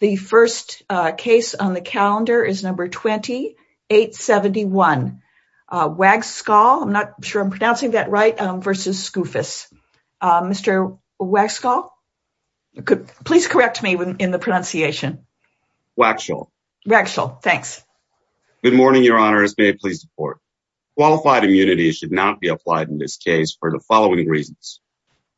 The first case on the calendar is number 2871, Wagschal, I'm not sure I'm pronouncing that right, versus Skoufis. Mr. Wagschal, please correct me in the pronunciation. Wagschal. Wagschal, thanks. Good morning, Your Honor, as may I please report. Qualified immunity should not be applied in this case for the following reasons.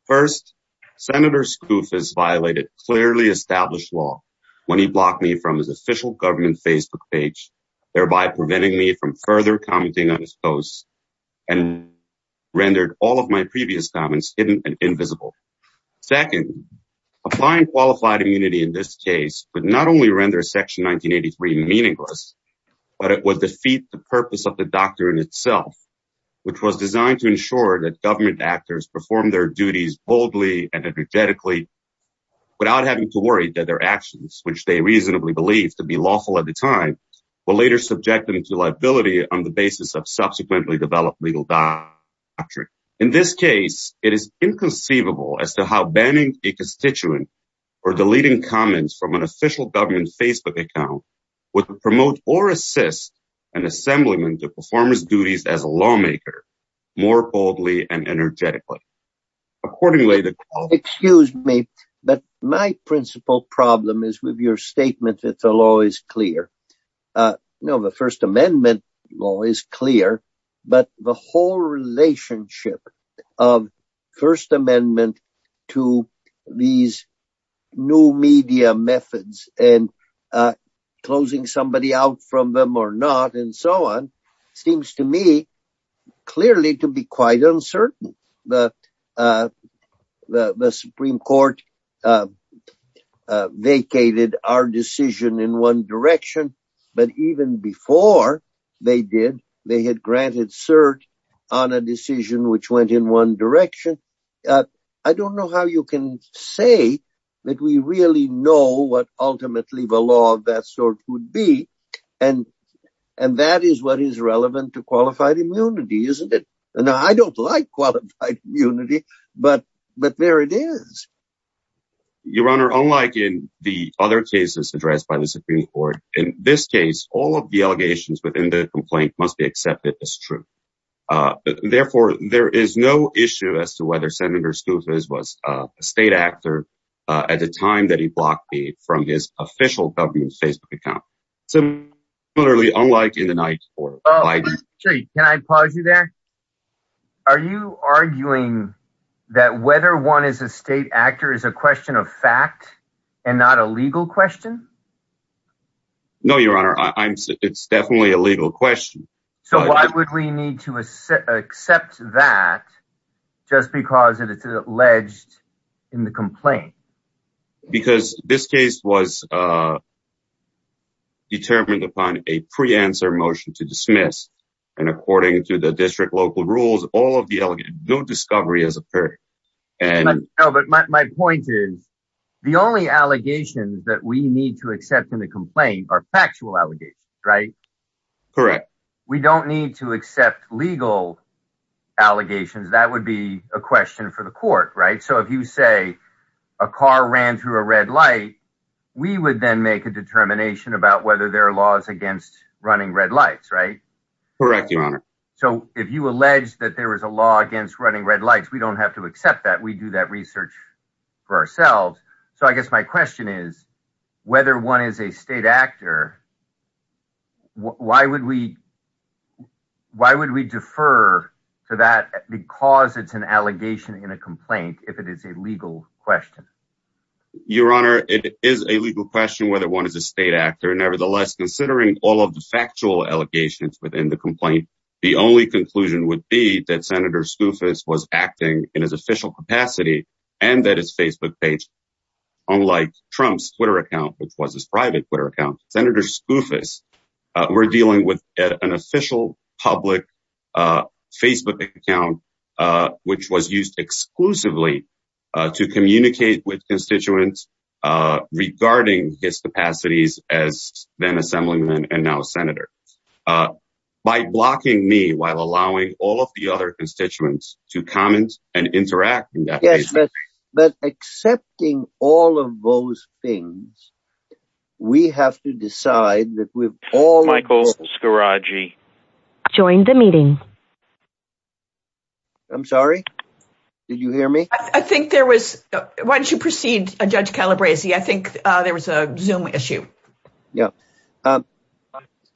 First, Senator Skoufis violated clearly established law when he blocked me from his official government Facebook page, thereby preventing me from further commenting on his posts and rendered all of my previous comments hidden and invisible. Second, applying qualified immunity in this case would not only render Section 1983 meaningless, but it would defeat the purpose of the doctrine itself, which was designed to ensure that government actors perform their duties boldly and energetically without having to worry that their actions, which they reasonably believed to be lawful at the time, would later subject them to liability on the basis of subsequently developed legal doctrine. Third, in this case, it is inconceivable as to how banning a constituent or deleting comments from an official government Facebook account would promote or assist an assemblyman to perform his duties as a lawmaker more boldly and energetically. Excuse me, but my principal problem is with your statement that the law is clear. No, the First Amendment law is clear, but the whole relationship of First Amendment to these new media methods and closing somebody out from them or not and so on seems to me clearly to be quite uncertain. The Supreme Court vacated our decision in one direction, but even before they did, they had granted cert on a decision which went in one direction. I don't know how you can say that we really know what ultimately the law of that sort would be, and that is what is relevant to qualified immunity, isn't it? Now, I don't like qualified immunity, but there it is. Your Honor, unlike in the other cases addressed by the Supreme Court, in this case, all of the allegations within the complaint must be accepted as true. Therefore, there is no issue as to whether Senator Stoufis was a state actor at the time that he blocked me from his official government Facebook account. Similarly, unlike in the night before. Can I pause you there? Are you arguing that whether one is a state actor is a question of fact and not a legal question? No, Your Honor, it's definitely a legal question. So why would we need to accept that just because it's alleged in the complaint? Because this case was determined upon a pre-answer motion to dismiss, and according to the district local rules, no discovery has occurred. But my point is, the only allegations that we need to accept in the complaint are factual allegations, right? Correct. We don't need to accept legal allegations. That would be a question for the court, right? So if you say a car ran through a red light, we would then make a determination about whether there are laws against running red lights, right? Correct, Your Honor. So if you allege that there is a law against running red lights, we don't have to accept that. We do that research for ourselves. So I guess my question is, whether one is a state actor, why would we defer to that because it's an allegation in a complaint? It is a legal question. Your Honor, it is a legal question whether one is a state actor. Nevertheless, considering all of the factual allegations within the complaint, the only conclusion would be that Senator Skoufis was acting in his official capacity and that his Facebook page, unlike Trump's Twitter account, which was his private Twitter account, Senator Skoufis were dealing with an official public Facebook account, which was used exclusively to communicate with constituents regarding his capacities as then Assemblyman and now Senator. By blocking me while allowing all of the other constituents to comment and interact. Yes, but accepting all of those things, we have to decide that we've all... Michael Scaraggi. I joined the meeting. I'm sorry. Did you hear me? I think there was... Why don't you proceed, Judge Calabresi? I think there was a Zoom issue. Yeah.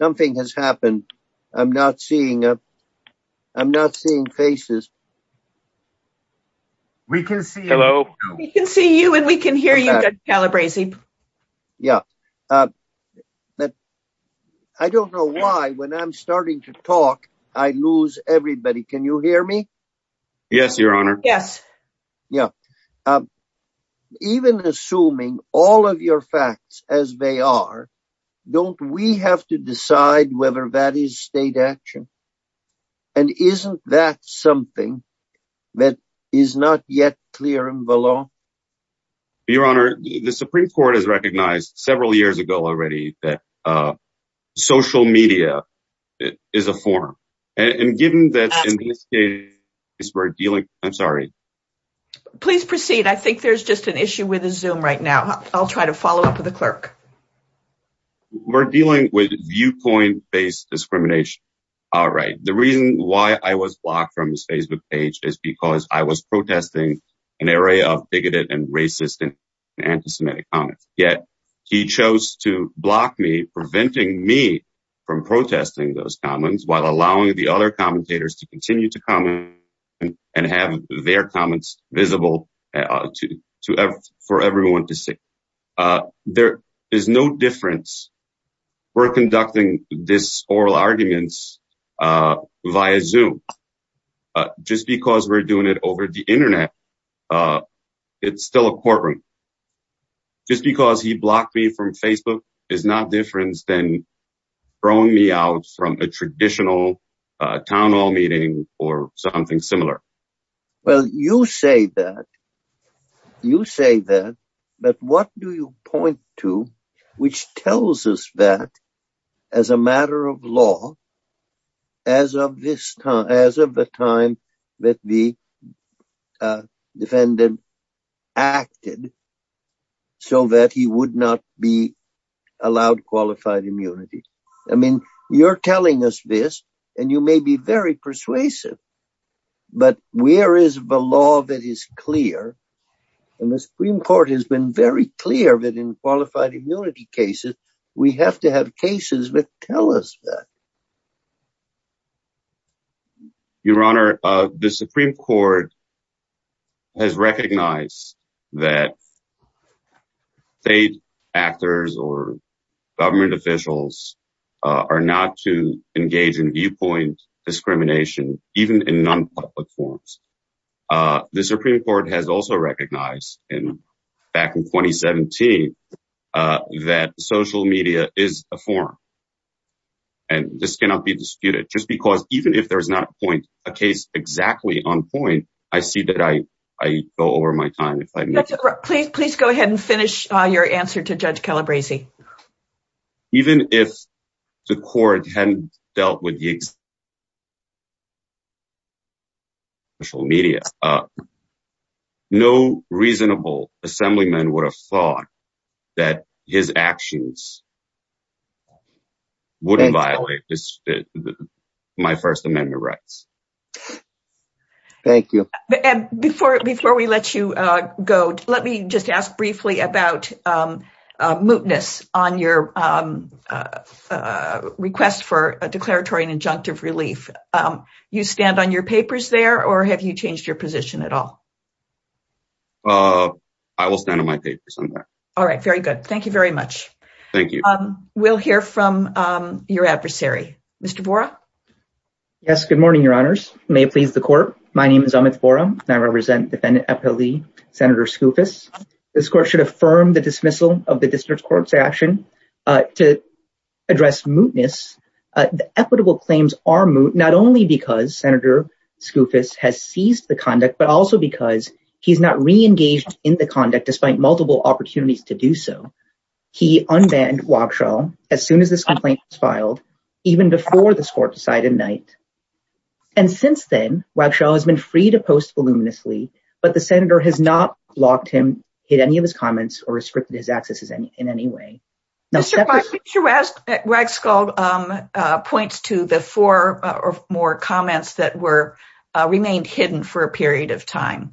Something has happened. I'm not seeing faces. We can see you. We can see you and we can hear you, Judge Calabresi. Yeah. I don't know why when I'm starting to talk, I lose everybody. Can you hear me? Yes, Your Honor. Yes. Even assuming all of your facts as they are, don't we have to decide whether that is state action? And isn't that something that is not yet clear and below? Your Honor, the Supreme Court has recognized several years ago already that social media is a form. And given that in this case, we're dealing... I'm sorry. Please proceed. I think there's just an issue with the Zoom right now. I'll try to follow up with the clerk. We're dealing with viewpoint-based discrimination. The reason why I was blocked from his Facebook page is because I was protesting an area of bigoted and racist and anti-Semitic comments. Yet he chose to block me, preventing me from protesting those comments while allowing the other commentators to continue to comment and have their comments visible for everyone to see. There is no difference. We're conducting this oral arguments via Zoom. Just because we're doing it over the internet, it's still a courtroom. Just because he blocked me from Facebook is not different than throwing me out from a traditional town hall meeting or something similar. Well, you say that, but what do you point to which tells us that, as a matter of law, as of the time that the defendant acted, so that he would not be allowed qualified immunity? I mean, you're telling us this, and you may be very persuasive, but where is the law that is clear? And the Supreme Court has been very clear that in qualified immunity cases, we have to have cases that tell us that. Your Honor, the Supreme Court has recognized that state actors or government officials are not to engage in viewpoint discrimination, even in non-public forums. The Supreme Court has also recognized, back in 2017, that social media is a forum. And this cannot be disputed. Just because, even if there's not a case exactly on point, I see that I go over my time. Please go ahead and finish your answer to Judge Calabresi. Even if the court hadn't dealt with social media, no reasonable assemblyman would have thought that his actions wouldn't violate my First Amendment rights. Thank you. Before we let you go, let me just ask briefly about mootness on your request for a declaratory and injunctive relief. You stand on your papers there, or have you changed your position at all? I will stand on my papers. All right, very good. Thank you very much. Thank you. We'll hear from your adversary. Mr. Vora? Yes, good morning, Your Honors. May it please the court, my name is Amit Vora, and I represent Defendant Epa Lee, Senator Skoufis. This court should affirm the dismissal of the District Court's action. To address mootness, the equitable claims are moot, not only because Senator Skoufis has seized the conduct, but also because he's not re-engaged in the conduct, despite multiple opportunities to do so. He unbanned Wagshall as soon as this complaint was filed, even before this court decided night. And since then, Wagshall has been free to post voluminously, but the Senator has not blocked him, hid any of his comments, or restricted his access in any way. Mr. Vora, Mr. Wagshall points to the four or more comments that remained hidden for a period of time.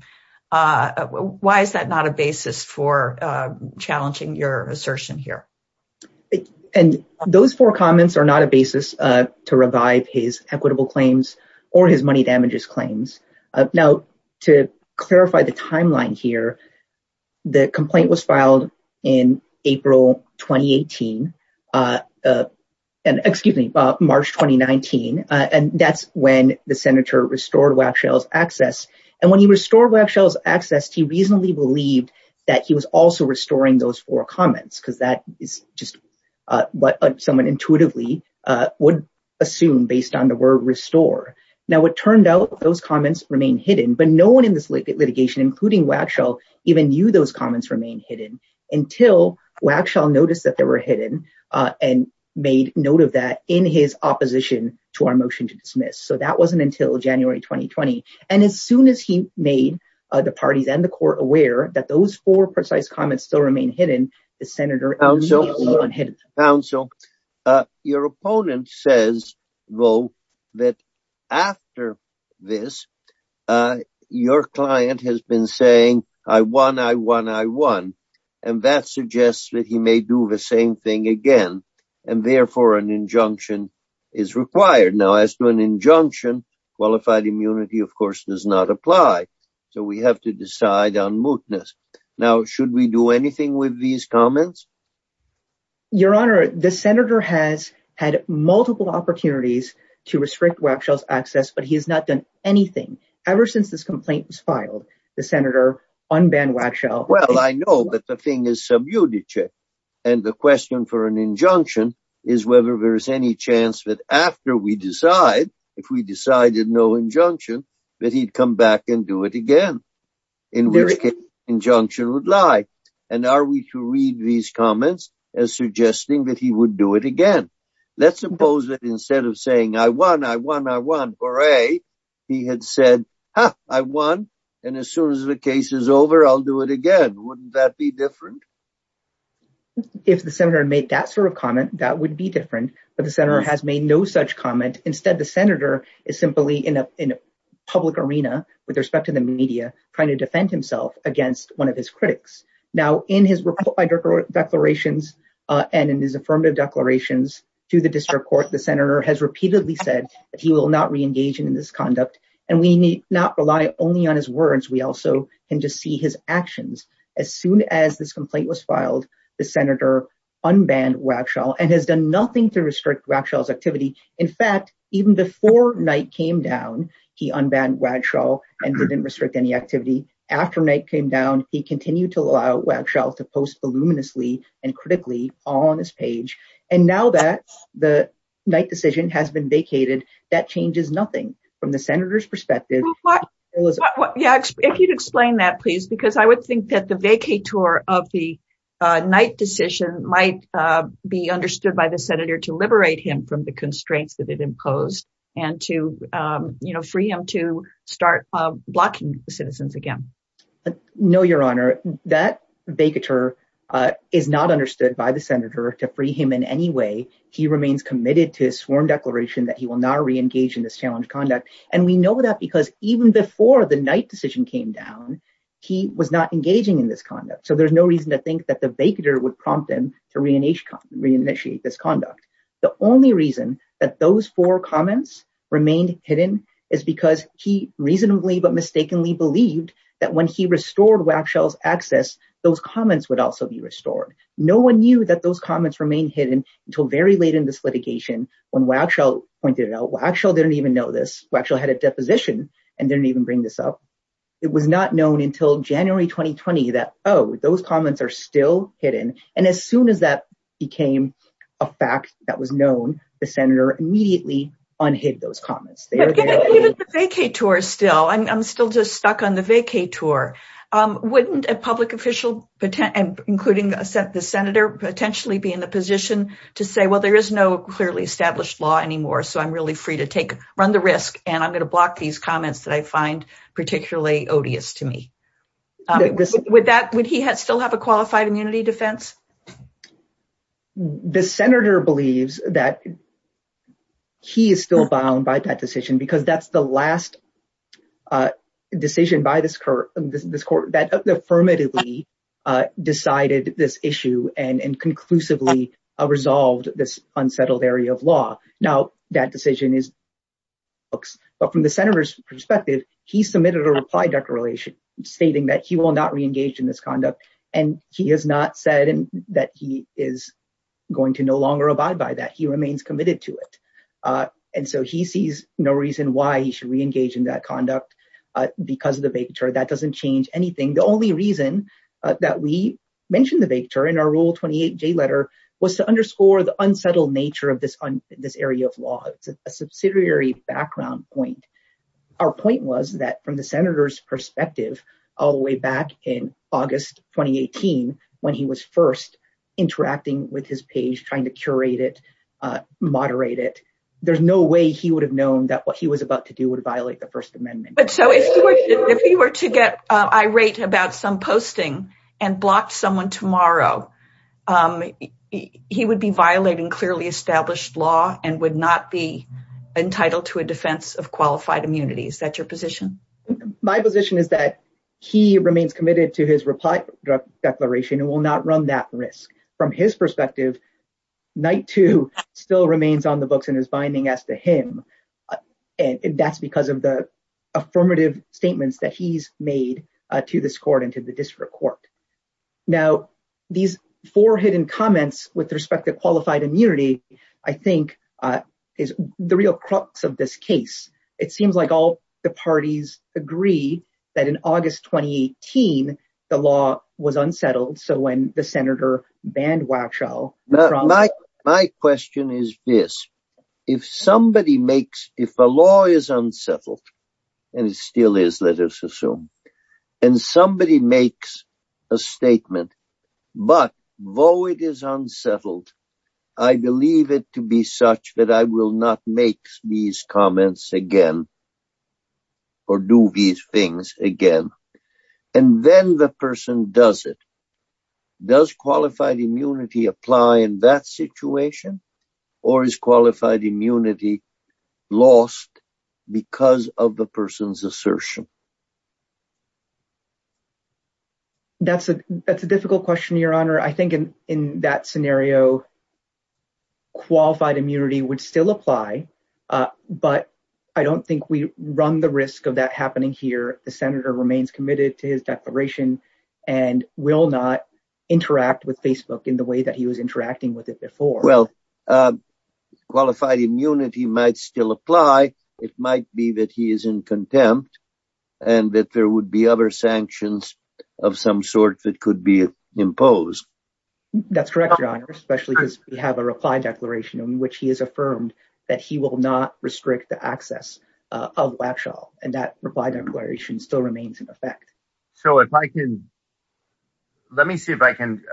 Why is that not a basis for challenging your assertion here? And those four comments are not a basis to revive his equitable claims, or his money damages claims. Now, to clarify the timeline here, the complaint was filed in April 2018, excuse me, March 2019, and that's when the Senator restored Wagshall's access. And when he restored Wagshall's access, he reasonably believed that he was also restoring those four comments, because that is just what someone intuitively would assume based on the word restore. Now, it turned out those comments remain hidden, but no one in this litigation, including Wagshall, even knew those comments remain hidden until Wagshall noticed that they were hidden and made note of that in his opposition to our motion to dismiss. So that wasn't until January 2020. And as soon as he made the parties and the court aware that those four precise comments still remain hidden, the Senator immediately unhid them. Your opponent says, though, that after this, your client has been saying, I won, I won, I won. And that suggests that he may do the same thing again, and therefore an injunction is required. Now, as to an injunction, qualified immunity, of course, does not apply. So we have to decide on mootness. Now, should we do anything with these comments? Your Honor, the Senator has had multiple opportunities to restrict Wagshall's access, but he has not done anything ever since this complaint was filed. The Senator unbanned Wagshall. Well, I know that the thing is submuted, and the question for an injunction is whether there is any chance that after we decide, if we decided no injunction, that he'd come back and do it again. In which case, injunction would lie. And are we to read these comments as suggesting that he would do it again? Let's suppose that instead of saying, I won, I won, I won, hooray, he had said, ha, I won. And as soon as the case is over, I'll do it again. Wouldn't that be different? If the Senator made that sort of comment, that would be different. But the Senator has made no such comment. Instead, the Senator is simply in a public arena with respect to the media, trying to defend himself against one of his critics. Now, in his declarations, and in his affirmative declarations to the district court, the Senator has repeatedly said that he will not reengage in this conduct. And we need not rely only on his words. We also can just see his actions. As soon as this complaint was filed, the Senator unbanned Wagshall and has done nothing to restrict Wagshall's activity. In fact, even before Knight came down, he unbanned Wagshall and didn't restrict any activity. After Knight came down, he continued to allow Wagshall to post voluminously and critically on his page. And now that the Knight decision has been vacated, that changes nothing from the Senator's perspective. If you'd explain that, please, because I would think that the vacator of the Knight decision might be understood by the Senator to liberate him from the constraints that it imposed, and to, you know, free him to start blocking citizens again. No, Your Honor, that vacator is not understood by the Senator to free him in any way. He remains committed to his sworn declaration that he will not reengage in this challenge conduct. And we know that because even before the Knight decision came down, he was not engaging in this conduct. So there's no reason to think that the vacator would prompt him to reinitiate this conduct. The only reason that those four comments remained hidden is because he reasonably but mistakenly believed that when he restored Wagshall's access, those comments would also be restored. No one knew that those comments remained hidden until very late in this litigation, when Wagshall pointed it out. Wagshall didn't even know this. Wagshall had a deposition and didn't even bring this up. It was not known until January 2020 that, oh, those comments are still hidden. And as soon as that became a fact that was known, the Senator immediately unhid those comments. Even the vacator still, I'm still just stuck on the vacator. Wouldn't a public official, including the Senator, potentially be in the position to say, well, there is no clearly established law anymore, so I'm really free to run the risk, and I'm going to block these comments that I find particularly odious to me? Would he still have a qualified immunity defense? The Senator believes that he is still bound by that decision because that's the last decision by this court that affirmatively decided this issue and conclusively resolved this unsettled area of law. Now, that decision is, but from the Senator's perspective, he submitted a reply declaration stating that he will not reengage in this conduct, and he has not said that he is going to no longer abide by that. He remains committed to it. And so he sees no reason why he should reengage in that conduct because of the vacator. That doesn't change anything. The only reason that we mentioned the vacator in our Rule 28J letter was to underscore the unsettled nature of this area of law. It's a subsidiary background point. Our point was that from the Senator's perspective, all the way back in August 2018, when he was first interacting with his page, trying to curate it, moderate it, there's no way he would have known that what he was about to do would violate the First Amendment. But so if he were to get irate about some posting and block someone tomorrow, he would be violating clearly established law and would not be entitled to a defense of qualified immunity. Is that your position? My position is that he remains committed to his reply declaration and will not run that risk. From his perspective, Night 2 still remains on the books and is binding as to him. And that's because of the affirmative statements that he's made to this court and to the district court. Now, these four hidden comments with respect to qualified immunity, I think, is the real crux of this case. It seems like all the parties agree that in August 2018, the law was unsettled. So when the Senator banned Waxhaw... But though it is unsettled, I believe it to be such that I will not make these comments again or do these things again. And then the person does it. Does qualified immunity apply in that situation? Or is qualified immunity lost because of the person's assertion? That's a that's a difficult question, Your Honor. I think in that scenario. Qualified immunity would still apply, but I don't think we run the risk of that happening here. The senator remains committed to his declaration and will not interact with Facebook in the way that he was interacting with it before. Well, qualified immunity might still apply. It might be that he is in contempt and that there would be other sanctions of some sort that could be imposed. That's correct, Your Honor, especially because we have a reply declaration in which he has affirmed that he will not restrict the access of Waxhaw. And that reply declaration still remains in effect. So if I can. Let me see if I can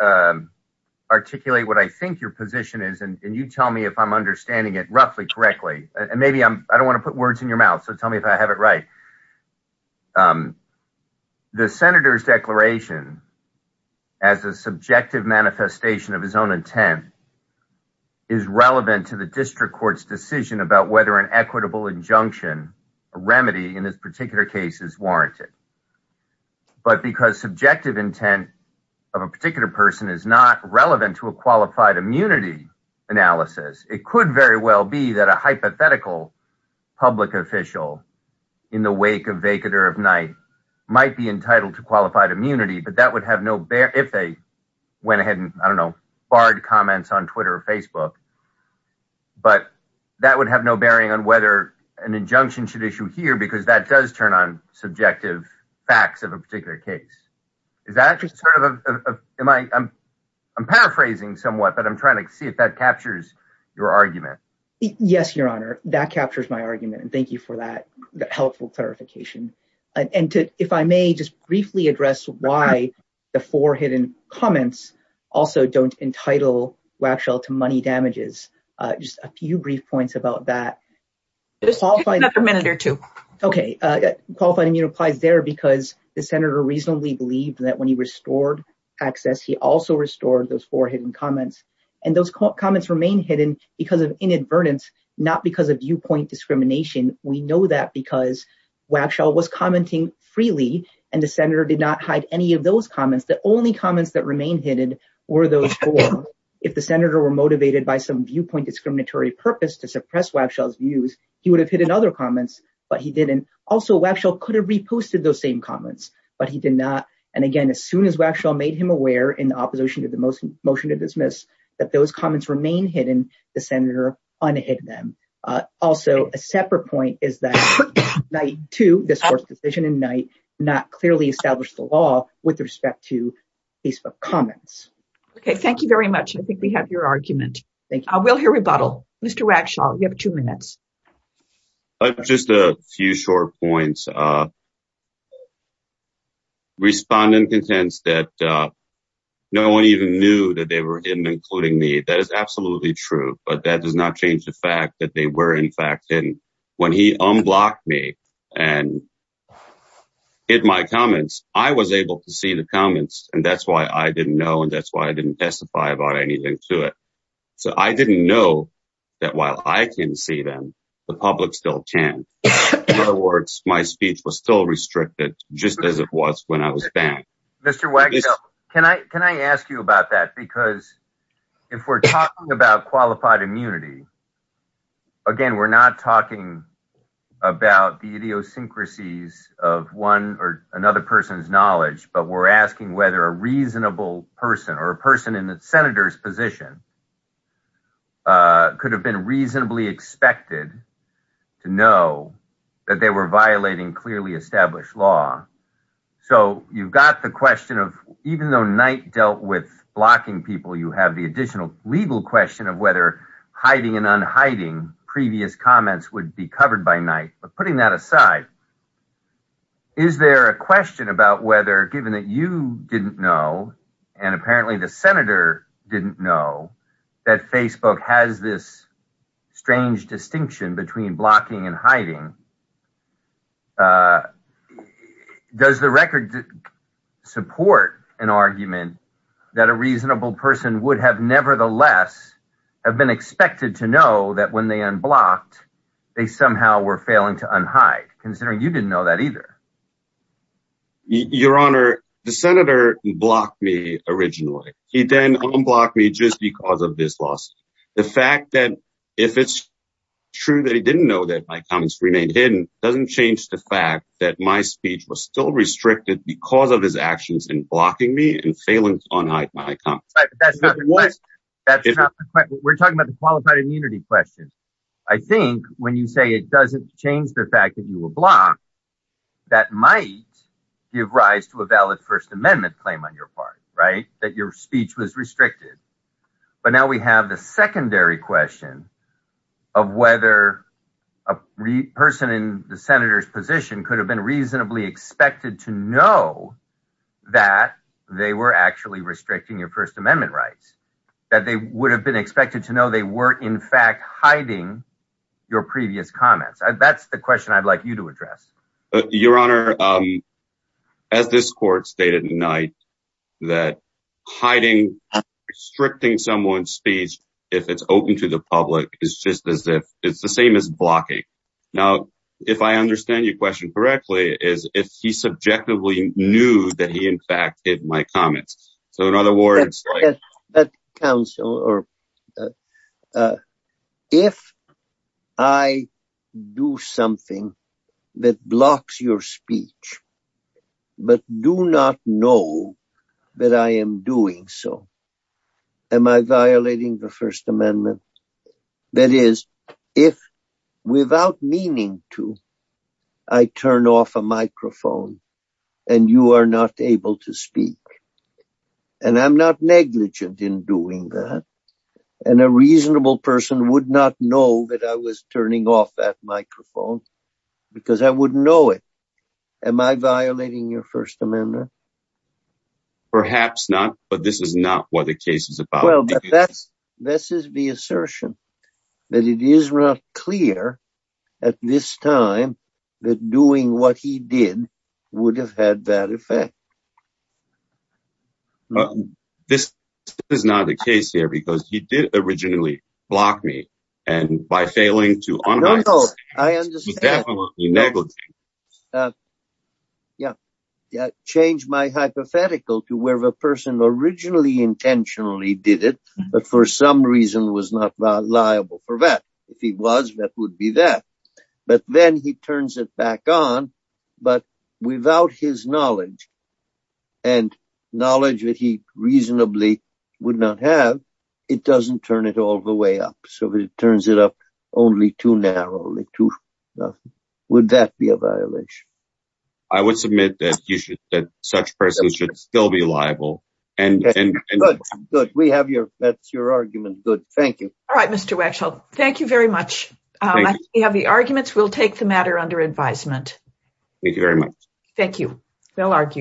articulate what I think your position is. And you tell me if I'm understanding it roughly correctly. And maybe I don't want to put words in your mouth. So tell me if I have it right. The senator's declaration as a subjective manifestation of his own intent. Is relevant to the district court's decision about whether an equitable injunction remedy in this particular case is warranted. But because subjective intent of a particular person is not relevant to a qualified immunity analysis, it could very well be that a hypothetical public official in the wake of vacant or of night might be entitled to qualified immunity. But that would have no bear if they went ahead and, I don't know, barred comments on Twitter or Facebook. But that would have no bearing on whether an injunction should issue here because that does turn on subjective facts of a particular case. Is that just sort of am I? I'm paraphrasing somewhat, but I'm trying to see if that captures your argument. Yes, your honor. That captures my argument. And thank you for that helpful clarification. And if I may just briefly address why the four hidden comments also don't entitle Waxhill to money damages. Just a few brief points about that. Just another minute or two. Okay. Qualified immunity applies there because the senator reasonably believed that when he restored access, he also restored those four hidden comments. And those comments remain hidden because of inadvertence, not because of viewpoint discrimination. We know that because Waxhill was commenting freely and the senator did not hide any of those comments. The only comments that remain hidden were those four. If the senator were motivated by some viewpoint discriminatory purpose to suppress Waxhill's views, he would have hidden other comments, but he didn't. Also, Waxhill could have reposted those same comments, but he did not. And again, as soon as Waxhill made him aware in opposition to the motion to dismiss that those comments remain hidden, the senator unhid them. Also, a separate point is that night two, this court's decision in night, not clearly established the law with respect to Facebook comments. Okay, thank you very much. I think we have your argument. I will hear rebuttal. Mr. Waxhall, you have two minutes. Just a few short points. Respondent contends that no one even knew that they were hidden, including me. That is absolutely true, but that does not change the fact that they were in fact hidden. When he unblocked me and hid my comments, I was able to see the comments and that's why I didn't know and that's why I didn't testify about anything to it. So I didn't know that while I can see them, the public still can. In other words, my speech was still restricted just as it was when I was banned. Mr. Wax, can I ask you about that? Because if we're talking about qualified immunity, again, we're not talking about the idiosyncrasies of one or another person's knowledge, but we're asking whether a reasonable person or a person in the senator's position could have been reasonably expected to know that they were violating clearly established law. So you've got the question of even though Knight dealt with blocking people, you have the additional legal question of whether hiding and unhiding previous comments would be covered by Knight. But putting that aside, is there a question about whether given that you didn't know and apparently the senator didn't know that Facebook has this strange distinction between blocking and hiding? Does the record support an argument that a reasonable person would have nevertheless have been expected to know that when they unblocked, they somehow were failing to unhide considering you didn't know that either? Your Honor, the senator blocked me originally. He then unblocked me just because of this loss. The fact that if it's true that he didn't know that my comments remained hidden doesn't change the fact that my speech was still restricted because of his actions in blocking me and failing to unhide my comments. That's not the question. We're talking about the qualified immunity question. I think when you say it doesn't change the fact that you were blocked, that might give rise to a valid First Amendment claim on your part, right, that your speech was restricted. But now we have the secondary question of whether a person in the senator's position could have been reasonably expected to know that they were actually restricting your First Amendment rights, that they would have been expected to know they weren't in fact hiding your previous comments. That's the question I'd like you to address. Your Honor, as this court stated tonight, that hiding, restricting someone's speech if it's open to the public is just as if it's the same as blocking. Now, if I understand your question correctly, is if he subjectively knew that he in fact hid my comments. So in other words... If I do something that blocks your speech, but do not know that I am doing so, am I violating the First Amendment? That is, if without meaning to, I turn off a microphone and you are not able to speak. And I'm not negligent in doing that. And a reasonable person would not know that I was turning off that microphone because I wouldn't know it. Am I violating your First Amendment? Perhaps not, but this is not what the case is about. This is the assertion that it is not clear at this time that doing what he did would have had that effect. This is not the case here because he did originally block me and by failing to unhide his comments, he was definitely negligent. Yeah, changed my hypothetical to where the person originally intentionally did it, but for some reason was not liable for that. If he was, that would be that. But then he turns it back on, but without his knowledge and knowledge that he reasonably would not have, it doesn't turn it all the way up. So if it turns it up only too narrowly, would that be a violation? I would submit that such persons should still be liable. Good, good. That's your argument. Good. Thank you. All right, Mr. Wetzel, thank you very much. We have the arguments. We'll take the matter under advisement. Thank you very much. Thank you. Well argued.